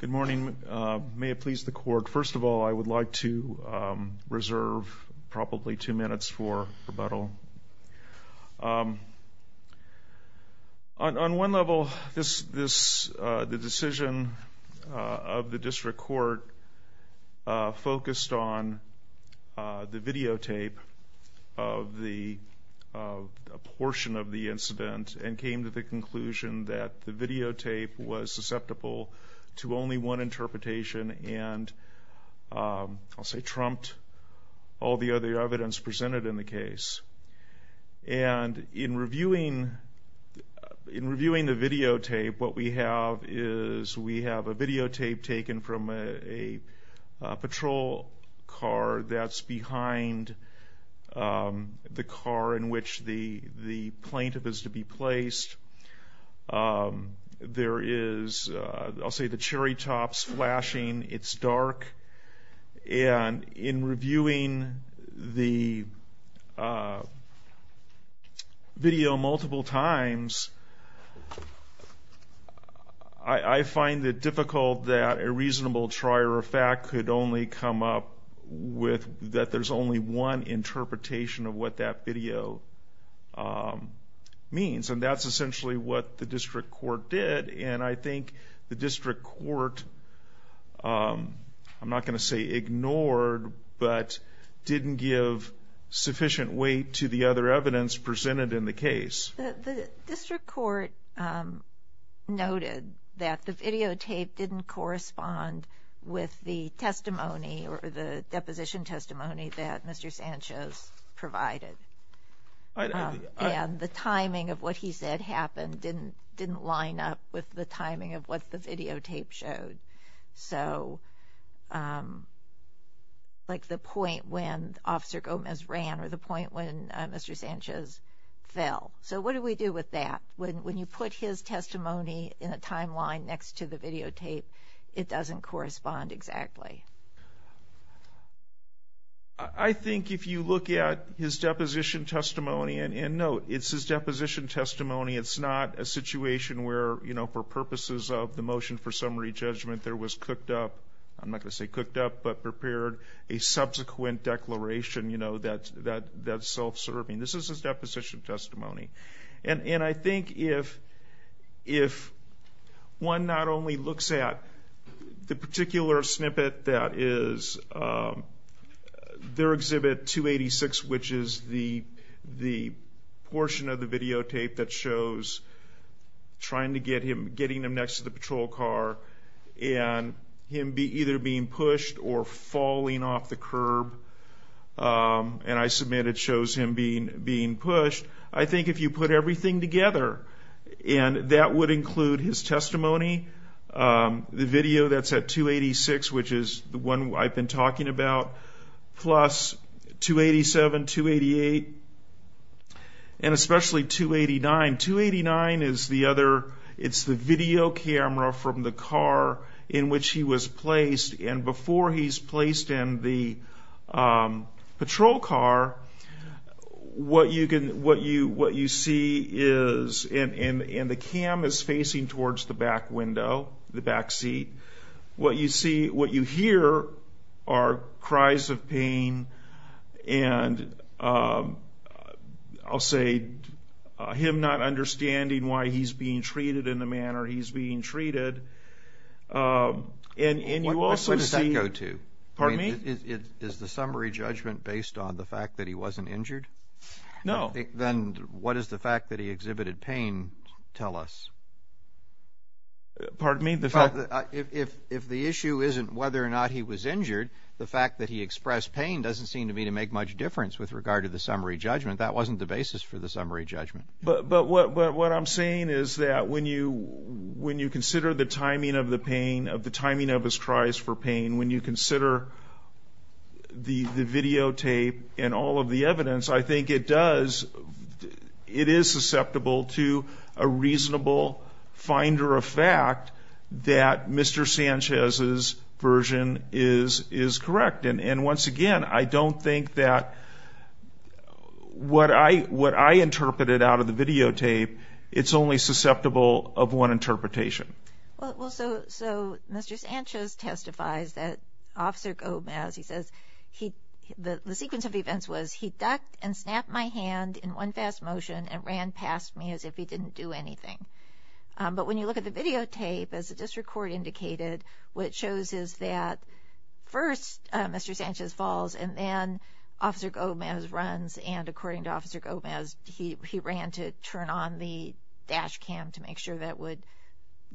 Good morning. May it please the court, first of all, I would like to reserve probably two minutes for rebuttal. On one level, the decision of the district court focused on the videotape of the portion of the incident and came to the conclusion that the videotape was susceptible to only one interpretation and I'll say trumped all the other evidence presented in the case. And in reviewing the videotape, what we have is we have a videotape taken from a patrol car that's behind the car in which the plaintiff is to be placed. There is, I'll say, the cherry tops flashing, it's dark, and in reviewing the video multiple times, I find it difficult that a reasonable trier of fact could only come up with that there's only one interpretation of what that video means. And that's essentially what the district court did. And I think the district court, I'm not going to say ignored, but didn't give sufficient weight to the other evidence presented in the case. The district court noted that the videotape didn't correspond with the testimony or the deposition testimony that Mr. Sanchez provided. And the timing of what he said happened didn't line up with the timing of what the videotape showed. So, like the point when Officer Gomez ran or the point when Mr. Sanchez ran, what do we do with that? When you put his testimony in a timeline next to the videotape, it doesn't correspond exactly. I think if you look at his deposition testimony, and note, it's his deposition testimony. It's not a situation where, you know, for purposes of the motion for summary testimony. And I think if one not only looks at the particular snippet that is their exhibit 286, which is the portion of the videotape that shows trying to get him, getting him next to the patrol car, and him either being pushed or falling off the curb. And I submit it shows him being pushed. I think if you put everything together, and that would include his testimony, the video that's at 286, which is the one I've been talking about, plus 287, 288, and especially 289. 289 is the other, it's the video camera from the car in which he was placed. And before he's placed in the patrol car, what you can, what you, what you see is, and the cam is facing towards the back window, the back seat. What you see, what you hear are cries of pain, and I'll say him not understanding why he's being treated in the manner he's being treated. And you also see... Where does that go to? Pardon me? Is the summary judgment based on the fact that he wasn't injured? No. Then what does the fact that he exhibited pain tell us? Pardon me? If the issue isn't whether or not he was injured, the fact that he expressed pain doesn't seem to me to make much difference with regard to the summary judgment. That wasn't the basis for the summary judgment. But what I'm saying is that when you consider the timing of the pain, of the timing of his cries for pain, when you consider the videotape and all of the evidence, I think it does, it is susceptible to a reasonable finder of fact that Mr. Sanchez's version is correct. And once again, I don't think that what I interpreted out of the videotape, it's only susceptible of one interpretation. Well, so Mr. Sanchez testifies that Officer Gomez, he says, the sequence of events was he ducked and snapped my hand in one fast motion and ran past me as if he didn't do anything. But when you look at the videotape, as the district court indicated, what it shows is that first Mr. Sanchez falls and then Officer Gomez runs, and according to Officer Gomez, he ran to turn on the dash cam to make sure that would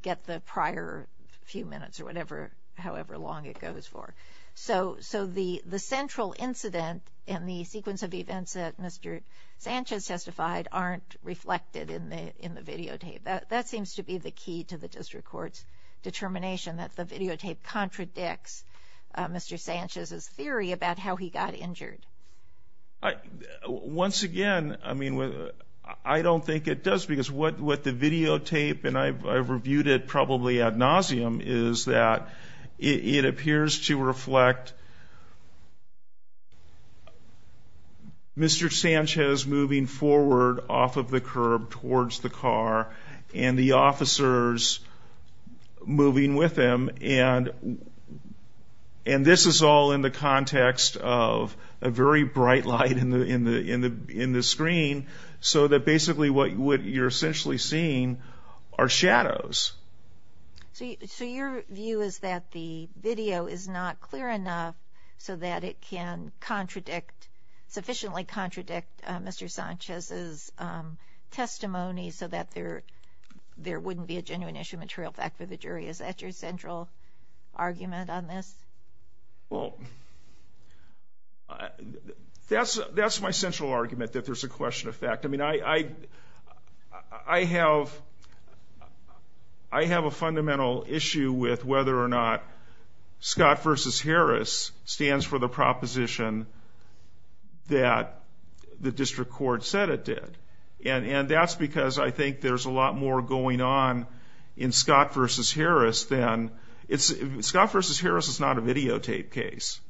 get the prior few minutes or whatever, however long it goes for. So the central incident in the sequence of events that Mr. Sanchez testified aren't reflected in the videotape. That seems to be the key to the district court's determination, that the videotape contradicts Mr. Sanchez's theory about how he got injured. Once again, I mean, I don't think it does, because what the videotape, and I've reviewed it probably ad nauseum, is that it appears to reflect Mr. Sanchez moving forward off of the curb towards the car and the officers moving with him. And this is all in the context of a very bright light in the screen, so that basically what you're essentially seeing are shadows. So your view is that the video is not clear enough so that it can contradict, sufficiently contradict, Mr. Sanchez's testimony so that there wouldn't be a genuine issue of material fact for the jury. Is that your central argument on this? Well, that's my central argument, that there's a question of fact. I mean, I have a fundamental issue with whether or not Scott v. Harris stands for the proposition that the district court said it did. And that's because I think there's a lot more going on in Scott v. Harris than — Scott v. Harris is not a videotape case.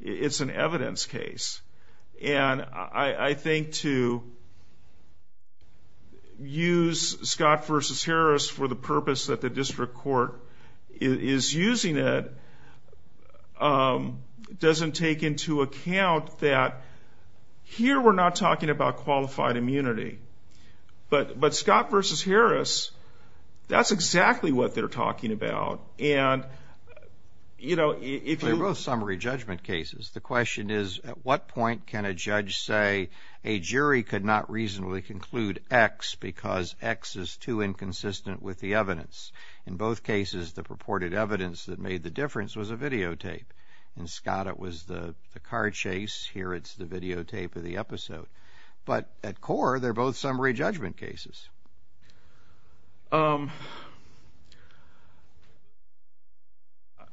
It's an evidence case. And I think to use Scott v. Harris for the purpose that the district court is using it doesn't take into account that here we're not talking about qualified immunity. But Scott v. Harris, that's exactly what they're talking about. They're both summary judgment cases. The question is, at what point can a judge say a jury could not reasonably conclude X because X is too inconsistent with the evidence? In both cases, the purported evidence that made the difference was a videotape. In Scott, it was the car chase. Here it's the videotape of the episode. But at core, they're both summary judgment cases.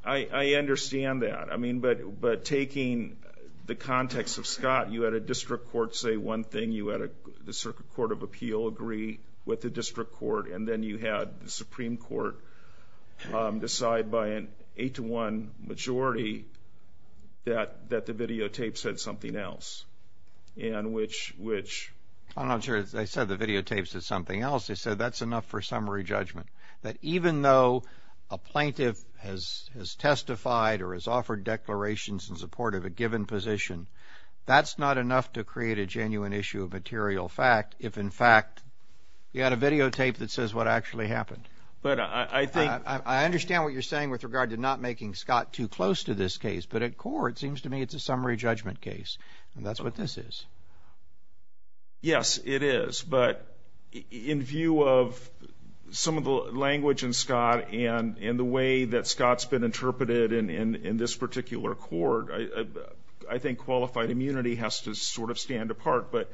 I understand that. I mean, but taking the context of Scott, you had a district court say one thing. You had the Circuit Court of Appeal agree with the district court. And then you had the Supreme Court decide by an eight-to-one majority that the videotape said something else. I'm not sure they said the videotapes said something else. They said that's enough for summary judgment, that even though a plaintiff has testified or has offered declarations in support of a given position, that's not enough to create a genuine issue of material fact if, in fact, you had a videotape that says what actually happened. I understand what you're saying with regard to not making Scott too close to this case. But at core, it seems to me it's a summary judgment case. And that's what this is. Yes, it is. But in view of some of the language in Scott and the way that Scott's been interpreted in this particular court, I think qualified immunity has to sort of stand apart. But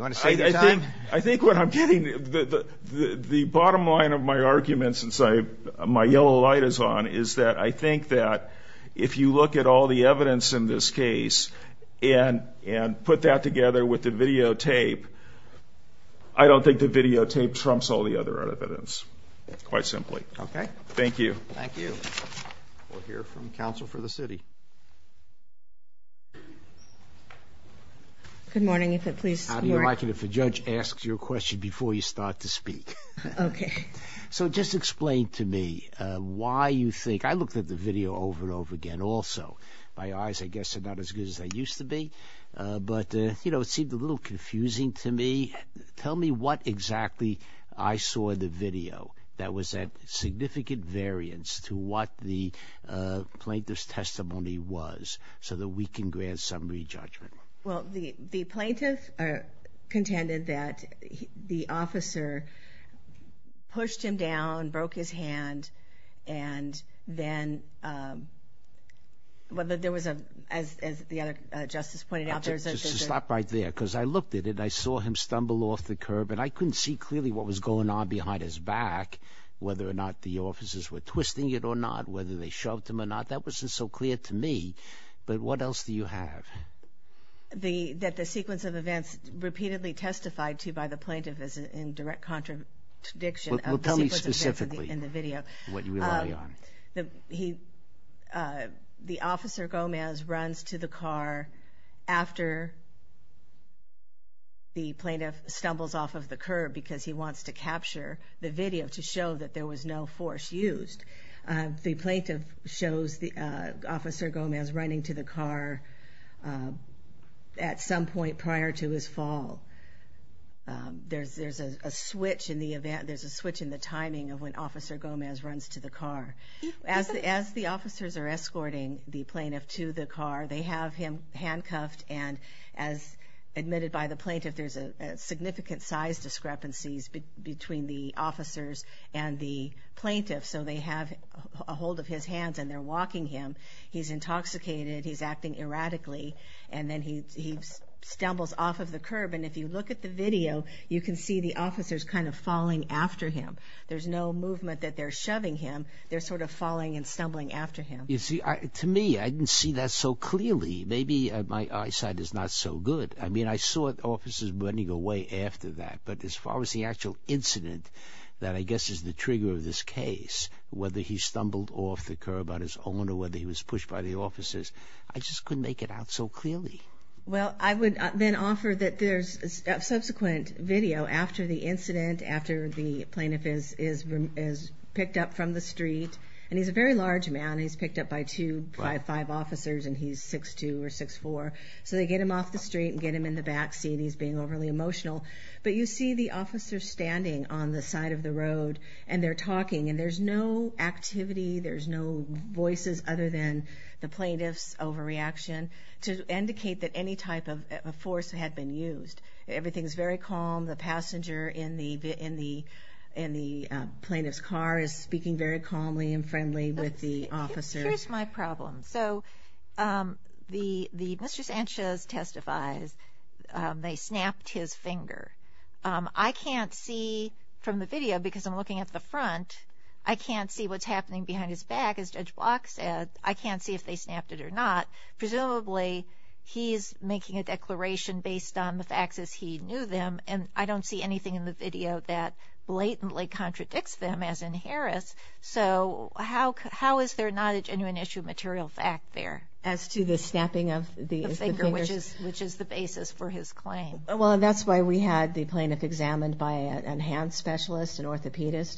I think what I'm getting, the bottom line of my argument, since my yellow light is on, is that I think that if you look at all the evidence in this case and put that together with the videotape, I don't think the videotape trumps all the other evidence, quite simply. Okay. Thank you. Thank you. We'll hear from counsel for the city. Good morning. How do you like it if a judge asks you a question before you start to speak? Okay. So just explain to me why you think, I looked at the video over and over again also. My eyes, I guess, are not as good as they used to be. But, you know, it seemed a little confusing to me. Tell me what exactly I saw in the video that was a significant variance to what the plaintiff's testimony was so that we can grant summary judgment. Well, the plaintiff contended that the officer pushed him down, broke his hand, and then, whether there was a, as the other justice pointed out. Just to stop right there, because I looked at it and I saw him stumble off the curb and I couldn't see clearly what was going on behind his back, whether or not the officers were twisting it or not, whether they shoved him or not. That wasn't so clear to me. But what else do you have? That the sequence of events repeatedly testified to by the plaintiff is in direct contradiction of the sequence of events in the video. Well, tell me specifically what you rely on. The officer, Gomez, runs to the car after the plaintiff stumbles off of the curb because he wants to capture the video to show that there was no force used. The plaintiff shows Officer Gomez running to the car at some point prior to his fall. There's a switch in the timing of when Officer Gomez runs to the car. As the officers are escorting the plaintiff to the car, they have him handcuffed and, as admitted by the plaintiff, there's significant size discrepancies between the officers and the plaintiff. So they have a hold of his hands and they're walking him. He's intoxicated, he's acting erratically, and then he stumbles off of the curb. And if you look at the video, you can see the officers kind of falling after him. There's no movement that they're shoving him. They're sort of falling and stumbling after him. You see, to me, I didn't see that so clearly. Maybe my eyesight is not so good. I mean, I saw officers running away after that. But as far as the actual incident that I guess is the trigger of this case, whether he stumbled off the curb on his own or whether he was pushed by the officers, I just couldn't make it out so clearly. Well, I would then offer that there's subsequent video after the incident, after the plaintiff is picked up from the street. And he's a very large man. He's picked up by two, five officers, and he's 6'2 or 6'4. So they get him off the street and get him in the backseat. He's being overly emotional. But you see the officers standing on the side of the road, and they're talking. And there's no activity. There's no voices other than the plaintiff's overreaction to indicate that any type of force had been used. Everything is very calm. The passenger in the plaintiff's car is speaking very calmly and friendly with the officers. Here's my problem. So Mr. Sanchez testifies they snapped his finger. I can't see from the video, because I'm looking at the front, I can't see what's happening behind his back, as Judge Block said. I can't see if they snapped it or not. Presumably he's making a declaration based on the facts as he knew them, and I don't see anything in the video that blatantly contradicts them, as in Harris. So how is there not a genuine issue of material fact there? As to the snapping of the finger, which is the basis for his claim. Well, that's why we had the plaintiff examined by an enhanced specialist, an orthopedist.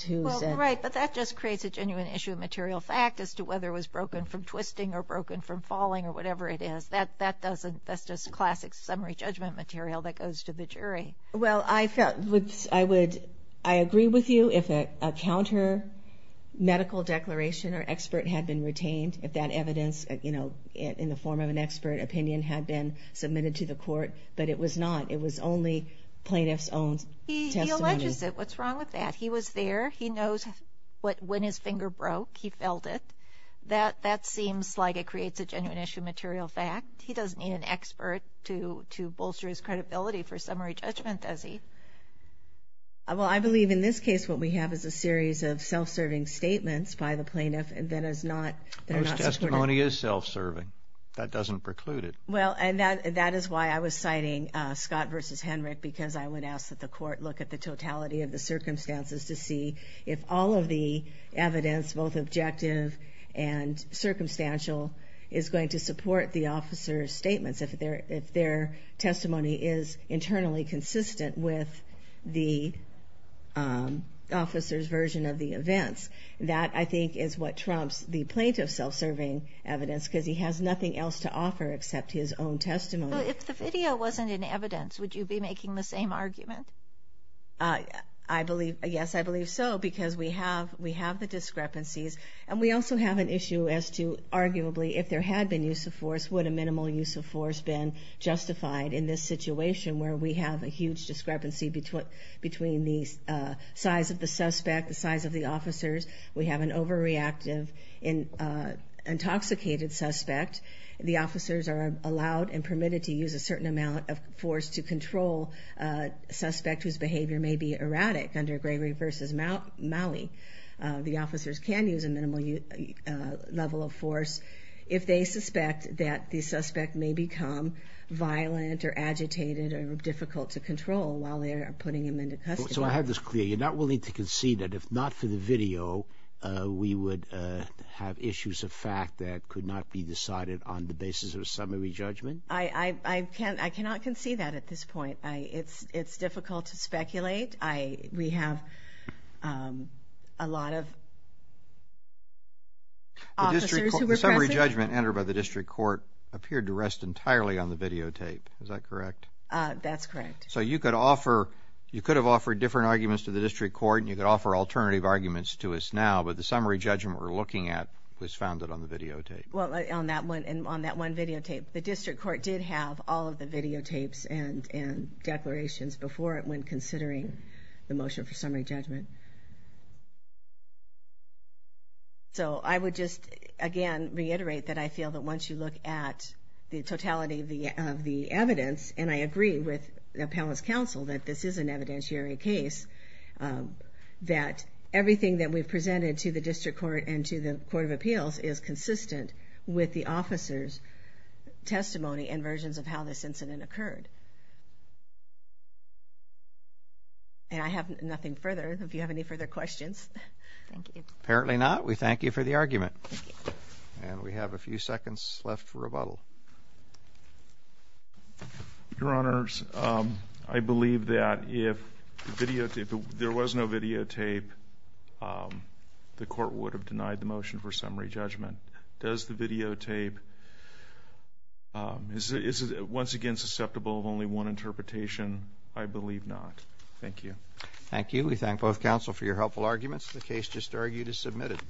Right, but that just creates a genuine issue of material fact as to whether it was broken from twisting or broken from falling or whatever it is. That's just classic summary judgment material that goes to the jury. Well, I agree with you if a counter medical declaration or expert had been retained, if that evidence in the form of an expert opinion had been submitted to the court. But it was not. It was only plaintiff's own testimony. He alleges it. What's wrong with that? He was there. He knows when his finger broke, he felt it. That seems like it creates a genuine issue of material fact. He doesn't need an expert to bolster his credibility for summary judgment, does he? Well, I believe in this case what we have is a series of self-serving statements by the plaintiff that are not supported. Most testimony is self-serving. That doesn't preclude it. Well, and that is why I was citing Scott v. Henrick, because I would ask that the court look at the totality of the circumstances to see if all of the evidence, both objective and circumstantial, is going to support the officer's statements, if their testimony is internally consistent with the officer's version of the events. That, I think, is what trumps the plaintiff's self-serving evidence, because he has nothing else to offer except his own testimony. If the video wasn't in evidence, would you be making the same argument? Yes, I believe so, because we have the discrepancies. And we also have an issue as to, arguably, if there had been use of force, would a minimal use of force been justified in this situation where we have a huge discrepancy between the size of the suspect, the size of the officers. We have an overreactive, intoxicated suspect. The officers are allowed and permitted to use a certain amount of force to control a suspect whose behavior may be erratic. Under Gregory v. Malley, the officers can use a minimal level of force if they suspect that the suspect may become violent or agitated or difficult to control while they are putting him into custody. So I have this clear. You're not willing to concede that if not for the video, we would have issues of fact that could not be decided on the basis of a summary judgment? I cannot concede that at this point. It's difficult to speculate. We have a lot of officers who were present. The summary judgment entered by the district court appeared to rest entirely on the videotape. Is that correct? That's correct. So you could have offered different arguments to the district court, and you could offer alternative arguments to us now, but the summary judgment we're looking at was founded on the videotape. Well, on that one videotape. The district court did have all of the videotapes and declarations before it in the motion for summary judgment. So I would just, again, reiterate that I feel that once you look at the totality of the evidence, and I agree with the appellant's counsel that this is an evidentiary case, that everything that we've presented to the district court and to the court of appeals is consistent with the officer's testimony and versions of how this incident occurred. And I have nothing further. If you have any further questions. Thank you. Apparently not. We thank you for the argument. Thank you. And we have a few seconds left for rebuttal. Your Honors, I believe that if there was no videotape, the court would have denied the motion for summary judgment. Does the videotape, is it once again susceptible of only one interpretation? I believe not. Thank you. Thank you. We thank both counsel for your helpful arguments. The case just argued is submitted.